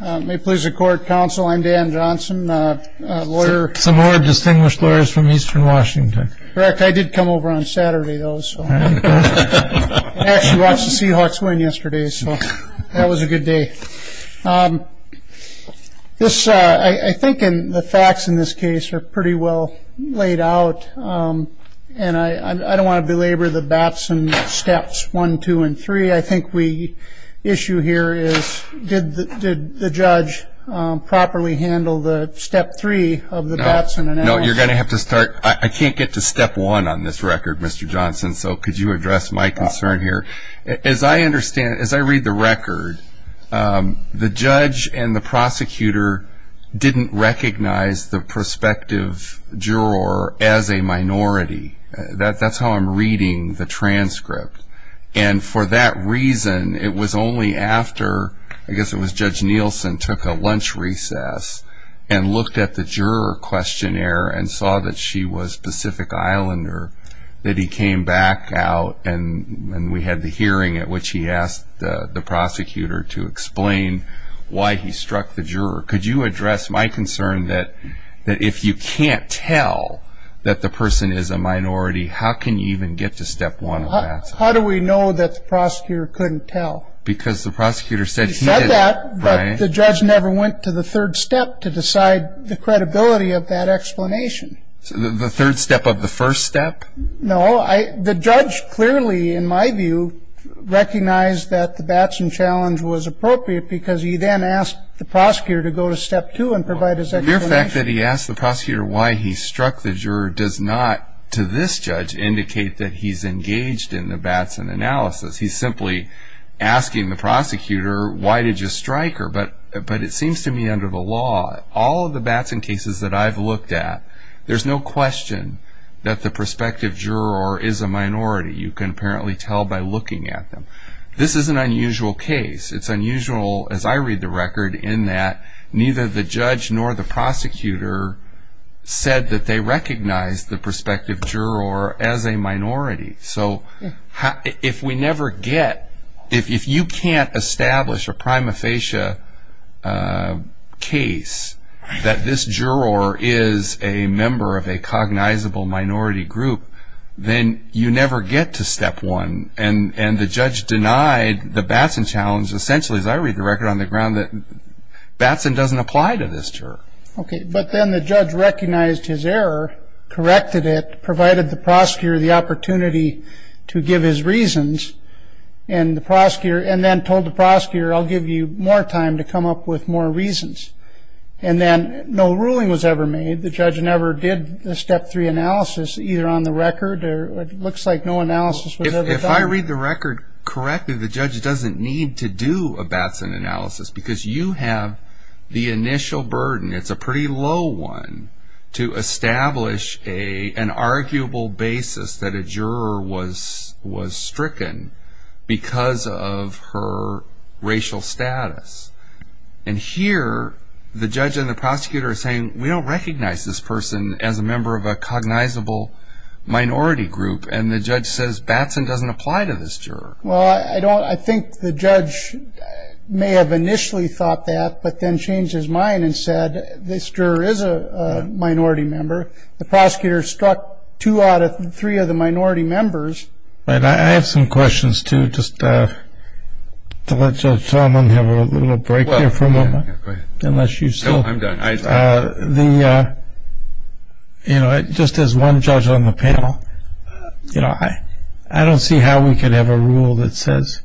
May it please the court, counsel, I'm Dan Johnson, lawyer Some more distinguished lawyers from eastern Washington Correct, I did come over on Saturday though, so I actually watched the Seahawks win yesterday, so that was a good day I think the facts in this case are pretty well laid out and I don't want to belabor the bats and steps, 1, 2, and 3 I think we issue here is, did the judge properly handle the step 3 of the bats and analysis? No, you're going to have to start, I can't get to step 1 on this record Mr. Johnson So could you address my concern here? As I understand, as I read the record, the judge and the prosecutor didn't recognize the prospective juror as a minority That's how I'm reading the transcript And for that reason, it was only after, I guess it was Judge Nielsen took a lunch recess and looked at the juror questionnaire and saw that she was Pacific Islander, that he came back out and we had the hearing at which he asked the prosecutor to explain why he struck the juror Could you address my concern that if you can't tell that the person is a minority how can you even get to step 1 of the bats and challenge? How do we know that the prosecutor couldn't tell? Because the prosecutor said he didn't He said that, but the judge never went to the third step to decide the credibility of that explanation The third step of the first step? No, the judge clearly, in my view, recognized that the bats and challenge was appropriate because he then asked the prosecutor to go to step 2 and provide his explanation The mere fact that he asked the prosecutor why he struck the juror does not, to this judge, indicate that he's engaged in the bats and analysis He's simply asking the prosecutor, why did you strike her? But it seems to me under the law, all of the bats and cases that I've looked at there's no question that the prospective juror is a minority You can apparently tell by looking at them This is an unusual case It's unusual, as I read the record, in that neither the judge nor the prosecutor said that they recognized the prospective juror as a minority So if you can't establish a prima facie case that this juror is a member of a cognizable minority group then you never get to step 1 And the judge denied the bats and challenge essentially, as I read the record on the ground, that bats and doesn't apply to this juror But then the judge recognized his error, corrected it, provided the prosecutor the opportunity to give his reasons, and then told the prosecutor I'll give you more time to come up with more reasons And then no ruling was ever made The judge never did the step 3 analysis, either on the record It looks like no analysis was ever done If I read the record correctly, the judge doesn't need to do a bats analysis because you have the initial burden, it's a pretty low one to establish an arguable basis that a juror was stricken because of her racial status And here, the judge and the prosecutor are saying We don't recognize this person as a member of a cognizable minority group And the judge says bats and doesn't apply to this juror Well, I think the judge may have initially thought that but then changed his mind and said this juror is a minority member The prosecutor struck 2 out of 3 of the minority members I have some questions, too No, I'm done Just as one judge on the panel I don't see how we could have a rule that says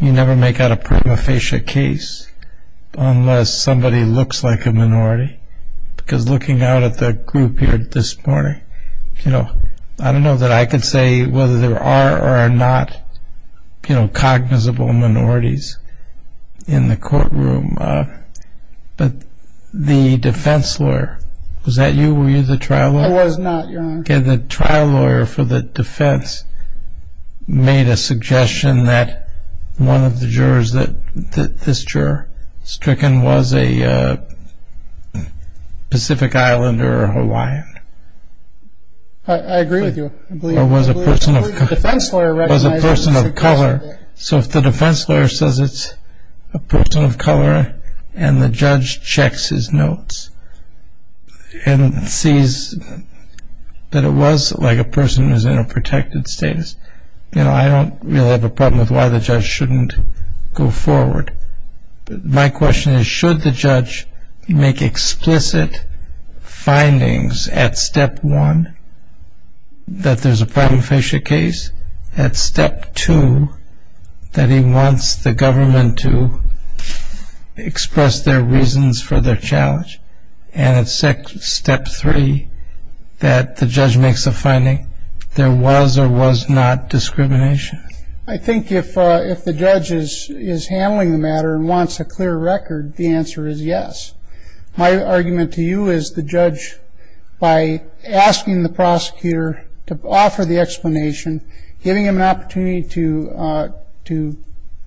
you never make out a prima facie case unless somebody looks like a minority Because looking out at the group here this morning I don't know that I could say whether there are or are not cognizable minorities in the courtroom But the defense lawyer Was that you? Were you the trial lawyer? I was not, Your Honor The trial lawyer for the defense made a suggestion that one of the jurors that this juror stricken was a Pacific Islander or Hawaiian I agree with you Or was a person of color So if the defense lawyer says it's a person of color and the judge checks his notes and sees that it was like a person who's in a protected status I don't really have a problem with why the judge shouldn't go forward My question is should the judge make explicit findings at Step 1 that there's a prima facie case at Step 2 that he wants the government to express their reasons for their challenge and at Step 3 that the judge makes a finding there was or was not discrimination I think if the judge is handling the matter and wants a clear record the answer is yes My argument to you is the judge by asking the prosecutor to offer the explanation giving him an opportunity to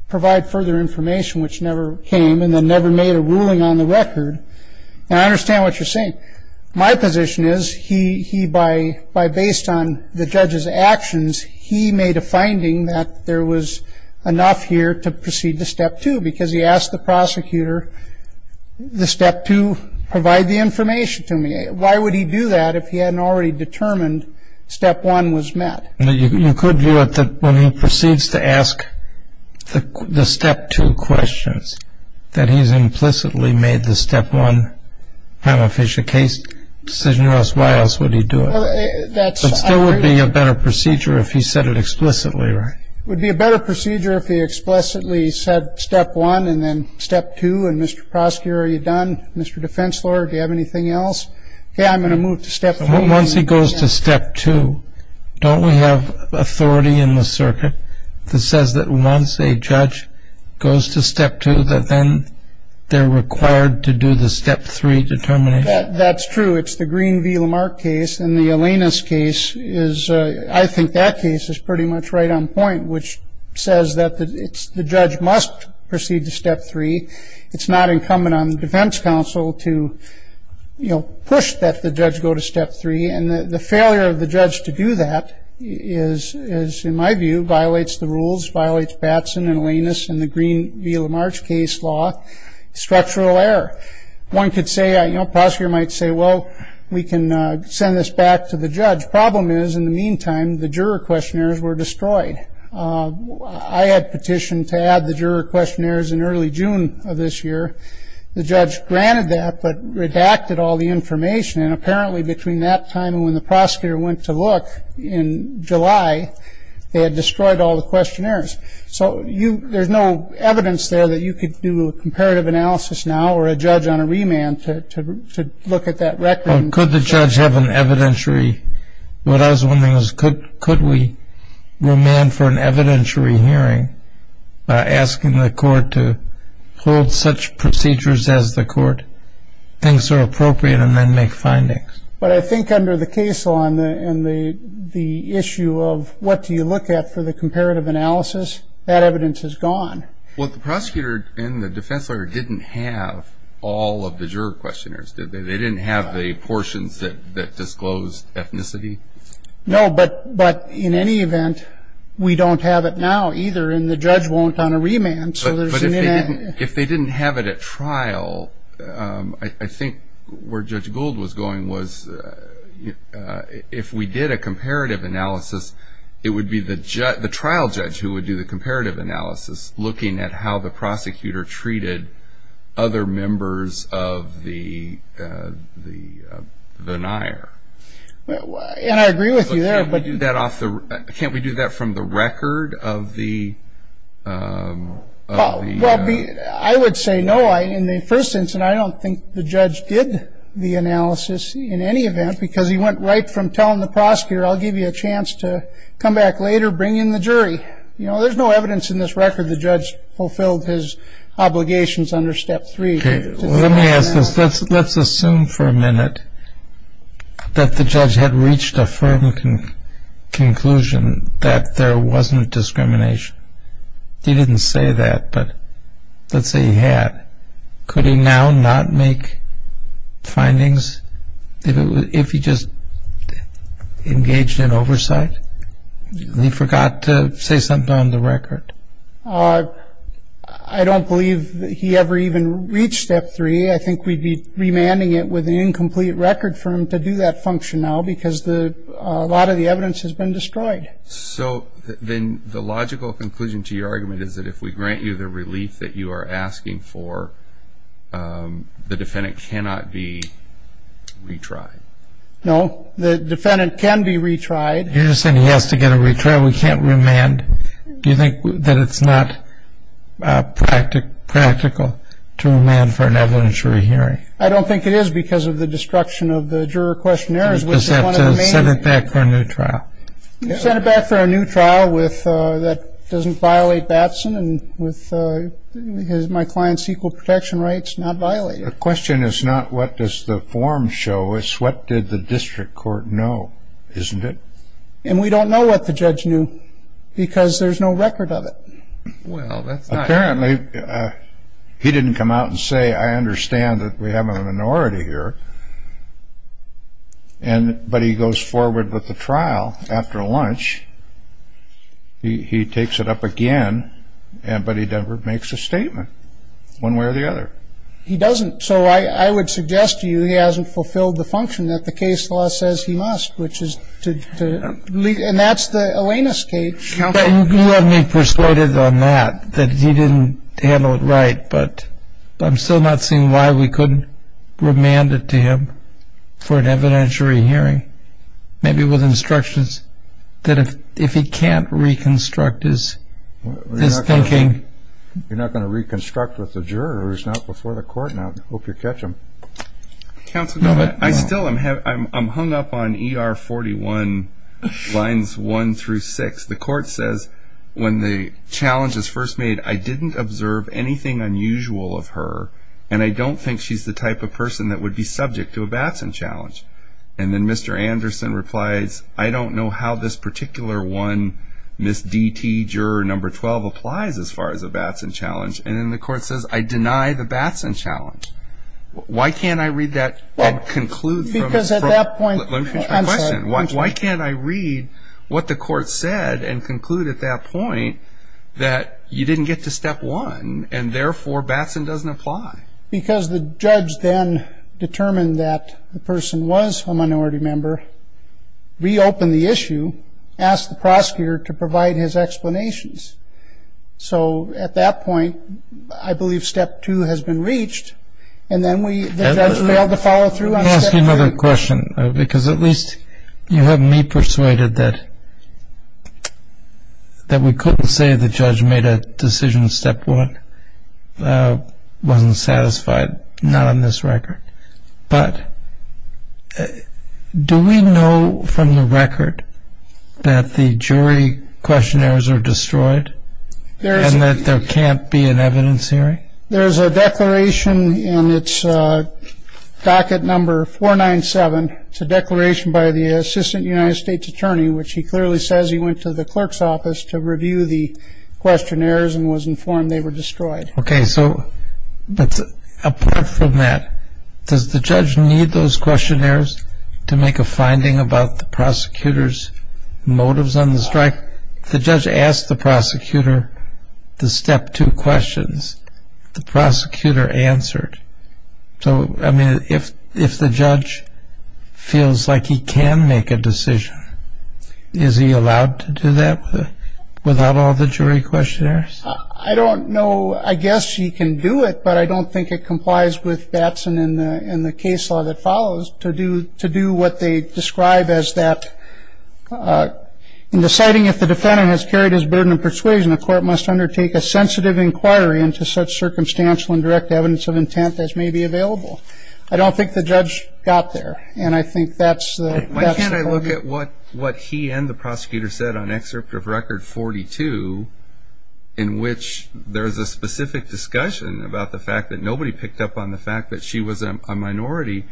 provide further information which never came and then never made a ruling on the record I understand what you're saying My position is he by based on the judge's actions he made a finding that there was enough here to proceed to Step 2 because he asked the prosecutor the Step 2 provide the information to me Why would he do that if he hadn't already determined Step 1 was met? You could view it that when he proceeds to ask the Step 2 questions that he's implicitly made the Step 1 prima facie case decision or else why else would he do it? It still would be a better procedure if he said it explicitly, right? It would be a better procedure if he explicitly said Step 1 and then Step 2 and Mr. Prosecutor, are you done? Mr. Defense lawyer, do you have anything else? Okay, I'm going to move to Step 3 Once he goes to Step 2, don't we have authority in the circuit that says that once a judge goes to Step 2 that then they're required to do the Step 3 determination? That's true, it's the Green v. Lamarck case and the Alanis case, I think that case is pretty much right on point which says that the judge must proceed to Step 3 It's not incumbent on the defense counsel to push that the judge go to Step 3 and the failure of the judge to do that is, in my view, violates the rules violates Batson and Alanis and the Green v. Lamarck case law structural error One could say, a prosecutor might say, well we can send this back to the judge Problem is, in the meantime, the juror questionnaires were destroyed I had petitioned to add the juror questionnaires in early June of this year The judge granted that but redacted all the information and apparently between that time and when the prosecutor went to look in July they had destroyed all the questionnaires So there's no evidence there that you could do a comparative analysis now or a judge on a remand to look at that record Could the judge have an evidentiary? What I was wondering is, could we remand for an evidentiary hearing by asking the court to hold such procedures as the court thinks are appropriate and then make findings? But I think under the case law and the issue of what do you look at for the comparative analysis that evidence is gone Well, the prosecutor and the defense lawyer didn't have all of the juror questionnaires They didn't have the portions that disclosed ethnicity? No, but in any event, we don't have it now either and the judge won't on a remand But if they didn't have it at trial, I think where Judge Gould was going was if we did a comparative analysis, it would be the trial judge who would do the comparative analysis looking at how the prosecutor treated other members of the denier And I agree with you there Can't we do that from the record of the... I would say no, in the first instance, I don't think the judge did the analysis in any event because he went right from telling the prosecutor I'll give you a chance to come back later, bring in the jury There's no evidence in this record the judge fulfilled his obligations under step three Let's assume for a minute that the judge had reached a firm conclusion that there wasn't discrimination He didn't say that, but let's say he had Could he now not make findings if he just engaged in oversight? He forgot to say something on the record I don't believe he ever even reached step three I think we'd be remanding it with an incomplete record firm to do that function now because a lot of the evidence has been destroyed So then the logical conclusion to your argument is that if we grant you the relief that you are asking for the defendant cannot be retried No, the defendant can be retried You're just saying he has to get a retrial, we can't remand Do you think that it's not practical to remand for an evidentiary hearing? I don't think it is because of the destruction of the juror questionnaires We just have to send it back for a new trial Send it back for a new trial that doesn't violate Batson and with my client's equal protection rights not violated The question is not what does the form show, it's what did the district court know, isn't it? And we don't know what the judge knew because there's no record of it Apparently he didn't come out and say I understand that we have a minority here But he goes forward with the trial after lunch He takes it up again, but he never makes a statement one way or the other He doesn't, so I would suggest to you he hasn't fulfilled the function that the case law says he must And that's the awayness case You have me persuaded on that, that he didn't handle it right But I'm still not seeing why we couldn't remand it to him for an evidentiary hearing Maybe with instructions that if he can't reconstruct his thinking You're not going to reconstruct with the jurors, not before the court, I hope you catch him Counsel, I'm hung up on ER 41 lines 1 through 6 The court says when the challenge is first made I didn't observe anything unusual of her And I don't think she's the type of person that would be subject to a Batson challenge And then Mr. Anderson replies I don't know how this particular one Ms. DT juror number 12 applies as far as a Batson challenge And then the court says I deny the Batson challenge Why can't I read that and conclude from Let me finish my question Why can't I read what the court said and conclude at that point That you didn't get to step one and therefore Batson doesn't apply Because the judge then determined that the person was a minority member Reopen the issue, ask the prosecutor to provide his explanations So at that point I believe step two has been reached And then the judge failed to follow through on step three Let me ask you another question because at least you have me persuaded that That we couldn't say the judge made a decision step one Wasn't satisfied, not on this record But do we know from the record that the jury questionnaires are destroyed And that there can't be an evidence hearing There's a declaration in its docket number 497 It's a declaration by the assistant United States attorney Which he clearly says he went to the clerk's office to review the questionnaires And was informed they were destroyed Okay so apart from that does the judge need those questionnaires To make a finding about the prosecutor's motives on the strike The judge asked the prosecutor the step two questions The prosecutor answered So I mean if the judge feels like he can make a decision Is he allowed to do that without all the jury questionnaires I don't know I guess he can do it But I don't think it complies with Batson in the case law that follows To do what they describe as that In deciding if the defendant has carried his burden of persuasion The court must undertake a sensitive inquiry Into such circumstantial and direct evidence of intent as may be available I don't think the judge got there And I think that's the point Why can't I look at what he and the prosecutor said on excerpt of record 42 In which there is a specific discussion About the fact that nobody picked up on the fact that she was a minority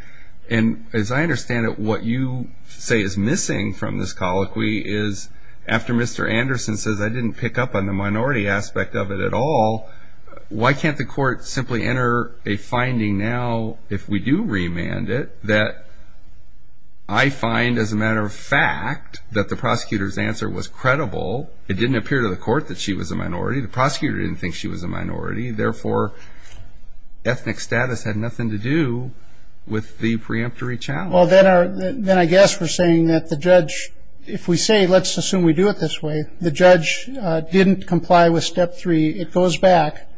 And as I understand it what you say is missing from this colloquy Is after Mr. Anderson says I didn't pick up on the minority aspect of it at all Why can't the court simply enter a finding now If we do remand it That I find as a matter of fact That the prosecutor's answer was credible It didn't appear to the court that she was a minority The prosecutor didn't think she was a minority Therefore ethnic status had nothing to do With the preemptory challenge Well then I guess we're saying that the judge If we say let's assume we do it this way The judge didn't comply with step three It goes back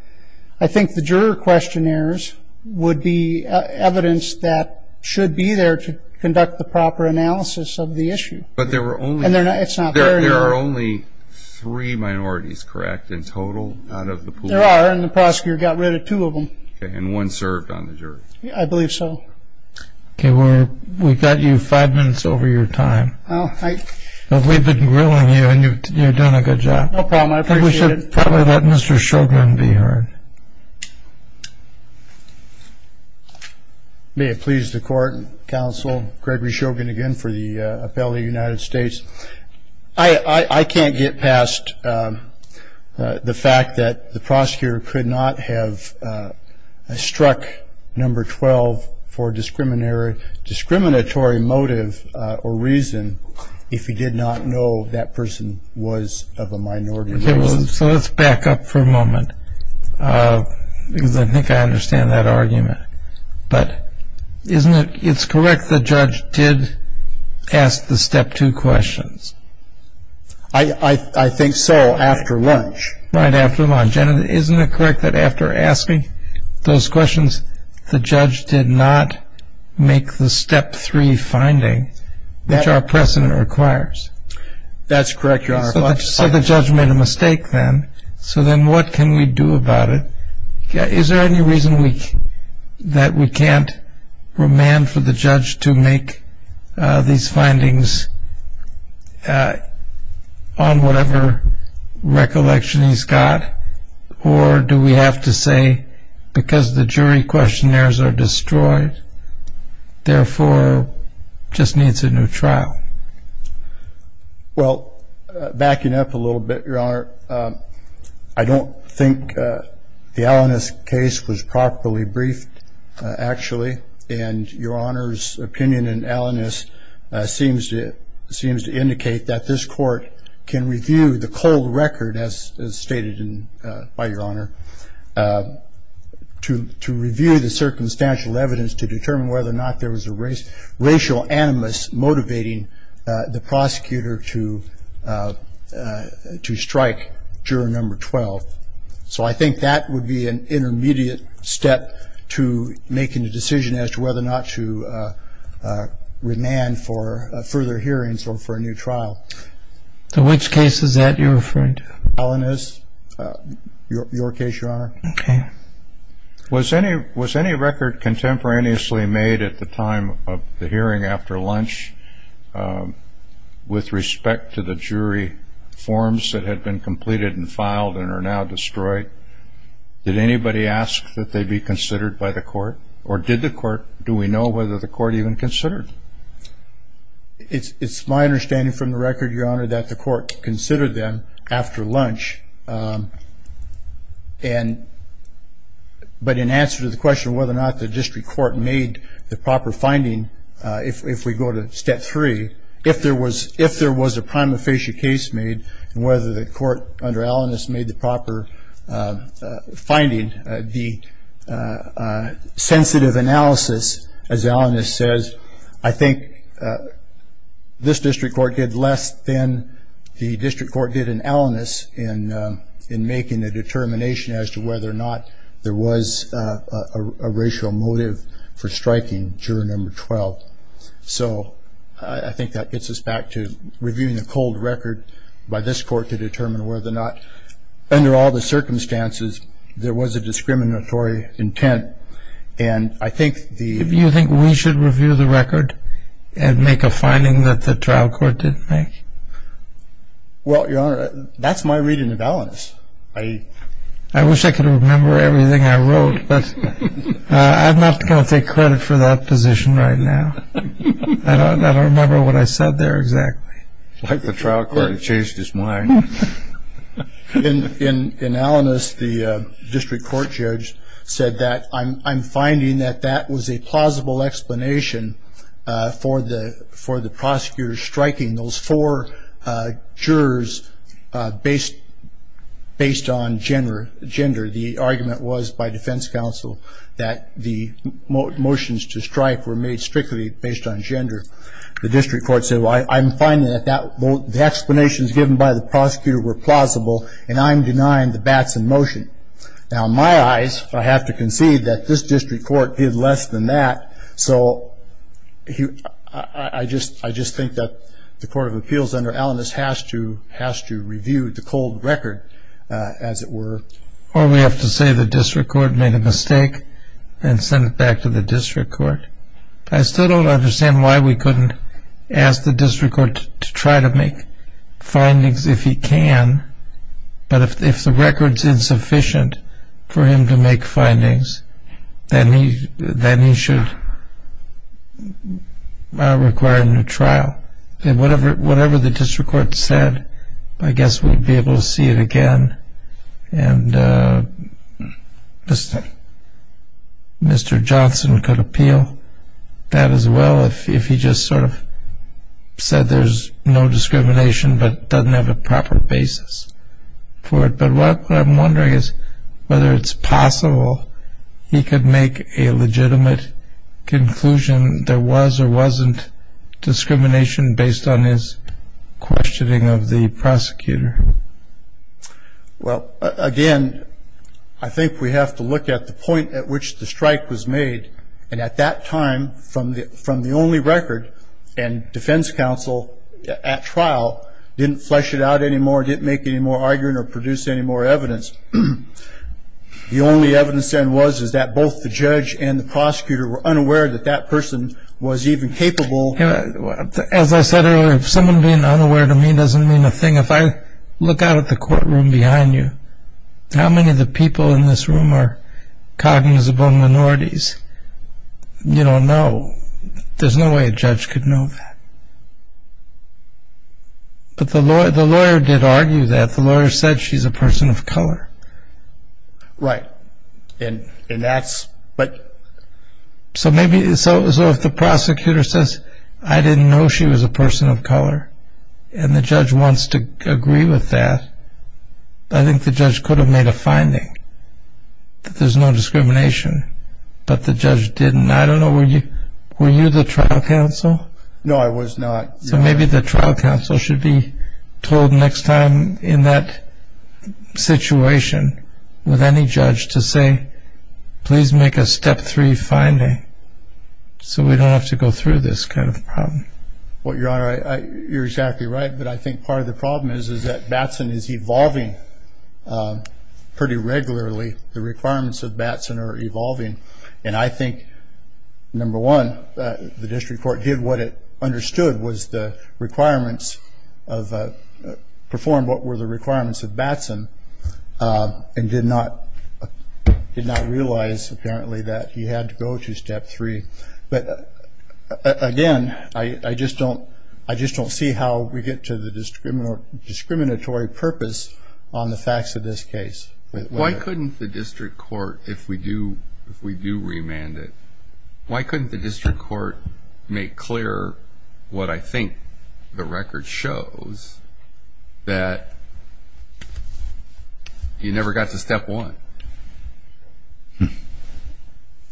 I think the juror questionnaires Would be evidence that should be there To conduct the proper analysis of the issue But there were only It's not fair There are only three minorities correct In total out of the pool There are and the prosecutor got rid of two of them And one served on the jury I believe so Okay we've got you five minutes over your time We've been grilling you and you've done a good job No problem I appreciate it We should probably let Mr. Shogun be heard May it please the court Counsel Gregory Shogun again for the Appellate of the United States I can't get past the fact that The prosecutor could not have struck number 12 For discriminatory motive or reason If he did not know that person was of a minority So let's back up for a moment Because I think I understand that argument But isn't it it's correct the judge did Ask the step two questions I think so after lunch Right after lunch Isn't it correct that after asking those questions The judge did not make the step three finding Which our precedent requires That's correct Your Honor So the judge made a mistake then So then what can we do about it Is there any reason that we can't Demand for the judge to make these findings On whatever recollection he's got Or do we have to say Because the jury questionnaires are destroyed Therefore just needs a new trial Well backing up a little bit Your Honor I don't think the Alanis case was properly briefed Actually and Your Honor's opinion in Alanis Seems to indicate that this court Can review the cold record as stated by Your Honor To review the circumstantial evidence To determine whether or not there was a racial animus Motivating the prosecutor to strike juror number 12 So I think that would be an intermediate step To making a decision as to whether or not to Demand for further hearings or for a new trial So which case is that you're referring to Alanis, your case Your Honor Okay Was any record contemporaneously made At the time of the hearing after lunch With respect to the jury forms That had been completed and filed and are now destroyed Did anybody ask that they be considered by the court Or did the court Do we know whether the court even considered It's my understanding from the record Your Honor That the court considered them after lunch But in answer to the question Whether or not the district court made the proper finding If we go to step three If there was a prima facie case made And whether the court under Alanis made the proper finding The sensitive analysis as Alanis says I think this district court did less than The district court did in Alanis In making a determination as to whether or not There was a racial motive for striking juror number 12 So I think that gets us back to reviewing the cold record By this court to determine whether or not Under all the circumstances There was a discriminatory intent And I think the Do you think we should review the record And make a finding that the trial court didn't make Well Your Honor That's my reading of Alanis I wish I could remember everything I wrote But I'm not going to take credit for that position right now I don't remember what I said there exactly Like the trial court changed his mind In Alanis the district court judge said that I'm finding that that was a plausible explanation For the prosecutors striking those four jurors Based on gender The argument was by defense counsel That the motions to strike were made strictly based on gender The district court said I'm finding that the explanations given by the prosecutor were plausible And I'm denying the Batson motion Now in my eyes I have to concede that this district court did less than that So I just think that the court of appeals under Alanis Has to review the cold record as it were Or we have to say the district court made a mistake And send it back to the district court I still don't understand why we couldn't ask the district court To try to make findings if he can But if the record's insufficient for him to make findings Then he should require a new trial Whatever the district court said I guess we'd be able to see it again And Mr. Johnson could appeal that as well If he just sort of said there's no discrimination But doesn't have a proper basis for it But what I'm wondering is whether it's possible He could make a legitimate conclusion There was or wasn't discrimination Based on his questioning of the prosecutor Well again I think we have to look at the point at which the strike was made And at that time from the only record And defense counsel at trial Didn't flesh it out anymore Didn't make any more arguing or produce any more evidence The only evidence then was Is that both the judge and the prosecutor were unaware That that person was even capable As I said earlier If someone being unaware to me doesn't mean a thing If I look out at the courtroom behind you How many of the people in this room are Cognizable minorities You don't know There's no way a judge could know that But the lawyer did argue that The lawyer said she's a person of color Right And that's So maybe So if the prosecutor says I didn't know she was a person of color And the judge wants to agree with that I think the judge could have made a finding That there's no discrimination But the judge didn't I don't know were you Were you the trial counsel No I was not So maybe the trial counsel should be Told next time in that Situation With any judge to say Please make a step three finding So we don't have to go through this kind of problem You're exactly right But I think part of the problem is That Batson is evolving Pretty regularly The requirements of Batson are evolving And I think Number one The district court did what it understood Was the requirements Of Performed what were the requirements of Batson And did not Realize apparently that he had to go to step three But Again I just don't I just don't see how we get to the Discriminatory purpose On the facts of this case Why couldn't the district court If we do If we do remand it Why couldn't the district court Make clear What I think The record shows That You never got to step one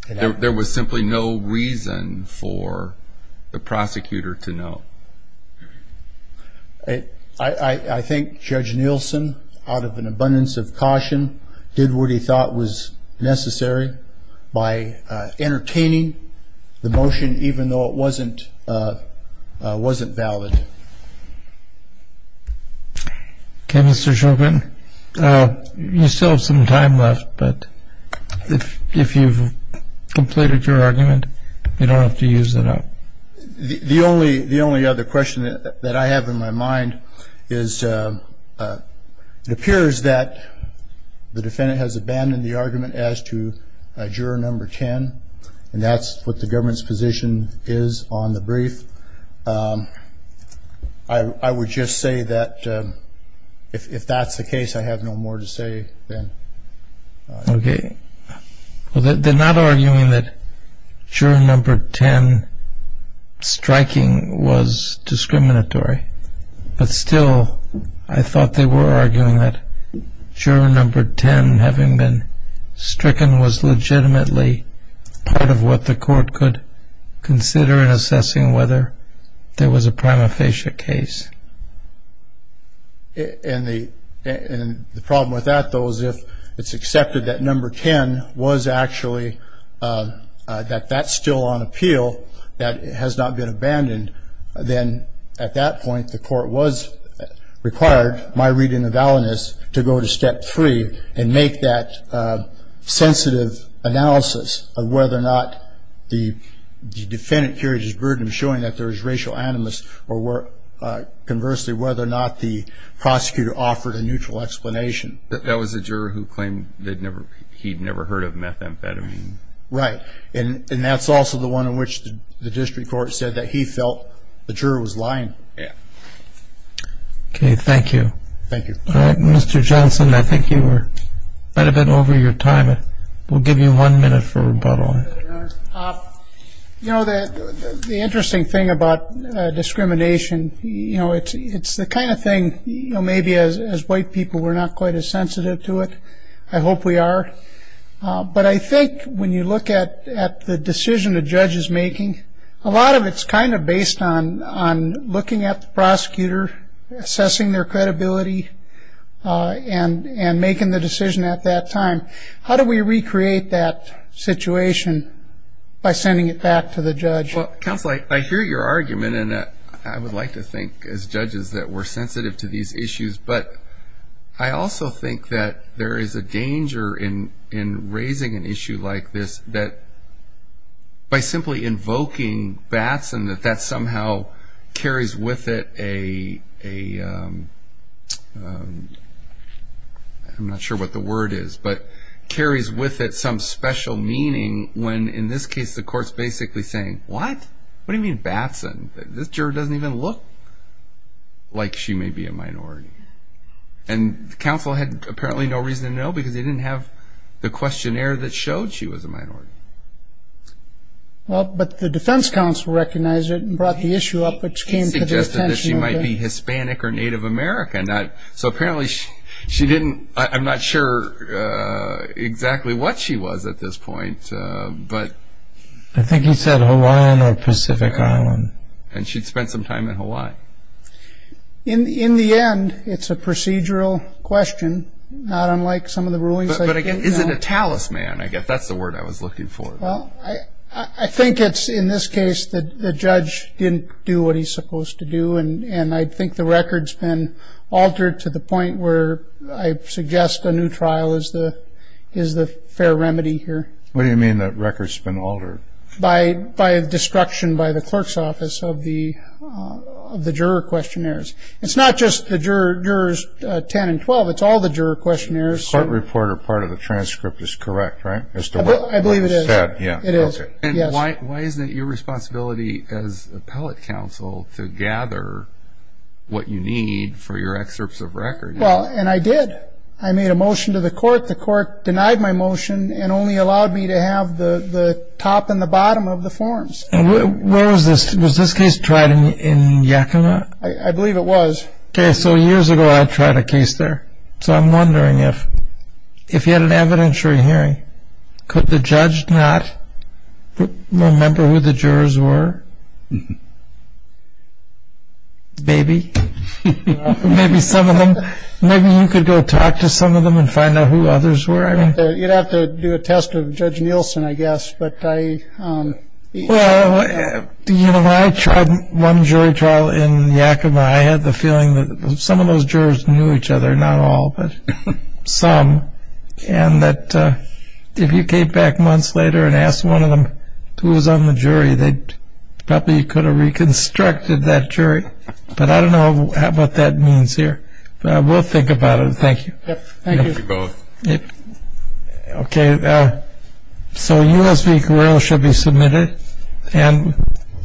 There was simply no reason For The prosecutor to know I think Judge Nielsen Out of an abundance of caution Did what he thought was Necessary By Entertaining The motion even though it wasn't Wasn't valid Okay, Mr. Chauvin You still have some time left But If you've Completed your argument You don't have to use it up The only other question That I have in my mind Is It appears that The defendant has abandoned the argument as to Juror number ten And that's what the government's position Is on the brief If I would just say that If that's the case I have no more to say Okay They're not arguing that Juror number ten Striking was Discriminatory But still I thought they were arguing that Juror number ten Having been stricken was legitimately Part of what the court could Consider in assessing whether There was a prima facie case And the And the problem with that though is if It's accepted that number ten Was actually That that's still on appeal That it has not been abandoned Then At that point the court was Required My reading of validness To go to step three And make that Sensitive Analysis Of whether or not The Defendant Carried his burden Showing that there was racial animus Or were Conversely whether or not the Prosecutor offered a neutral explanation That that was a juror who claimed That never He'd never heard of methamphetamine Right And that's also the one in which The district court said that he felt The juror was lying Okay thank you Thank you Mr. Johnson I think you were Might have been over your time We'll give you one minute for rebuttal You know that The interesting thing about Discrimination You know it's It's the kind of thing You know maybe as As white people we're not quite as Sensitive to it I hope we are But I think when you look at At the decision the judge is making A lot of it's kind of based on On looking at the prosecutor Assessing their credibility And And making the decision at that time How do we recreate that Situation By sending it back to the judge Counselor I hear your argument I would like to think as judges That we're sensitive to these issues But I also think that There is a danger in In raising an issue like this That By simply invoking Batson that that somehow Carries with it a A I'm not sure what the word is But Carries with it some special meaning When in this case the courts Basically saying What? What do you mean Batson? This juror doesn't even look Like she may be a minority And Counsel had apparently no reason to know Because they didn't have The questionnaire that showed She was a minority Well but the defense counsel Recognized it And brought the issue up Which came to their attention He suggested that she might be Hispanic or Native American So apparently She didn't I'm not sure Exactly what she was At this point But I think he said Hawaiian or Pacific Island And she'd spent some time in Hawaii In the end It's a procedural question Not unlike some of the rulings But again Is it a talisman? I guess that's the word I was looking for Well I think it's In this case The judge Didn't do what he's supposed to do And I think the record's been Altered to the point where I suggest a new trial Is the Is the Fair remedy here What do you mean The record's been altered? By By destruction By the clerk's office Of the Of the juror questionnaires It's not just The jurors 10 and 12 It's all the juror questionnaires The court report Or part of the transcript Is correct, right? I believe it is It is And why Isn't it your responsibility As appellate counsel To gather What you need For your excerpts of record? Well And I did I made a motion to the court The court Denied my motion And only allowed me to have The Top and the bottom Of the forms And where Was this Was this case tried in Yakima? I believe it was Okay So years ago I tried a case there So I'm wondering if If you had an evidentiary hearing Could the judge not Remember who the jurors were? Maybe Maybe some of them Maybe you could go Talk to some of them And find out who others were I mean You'd have to do a test Of Judge Nielsen I guess But I Well You know When I tried One jury trial in Yakima I had the feeling That some of those jurors Knew each other Not all But Some And that If you came back months later And asked one of them Who was on the jury They Probably could have Reconstructed that jury But I don't know What that means here But we'll think about it Thank you Yep Thank you We both Yep Okay So U.S. v. Guerrero Shall be submitted And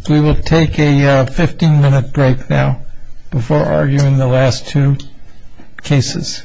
We will take a Fifteen minute break now Before arguing the last two Cases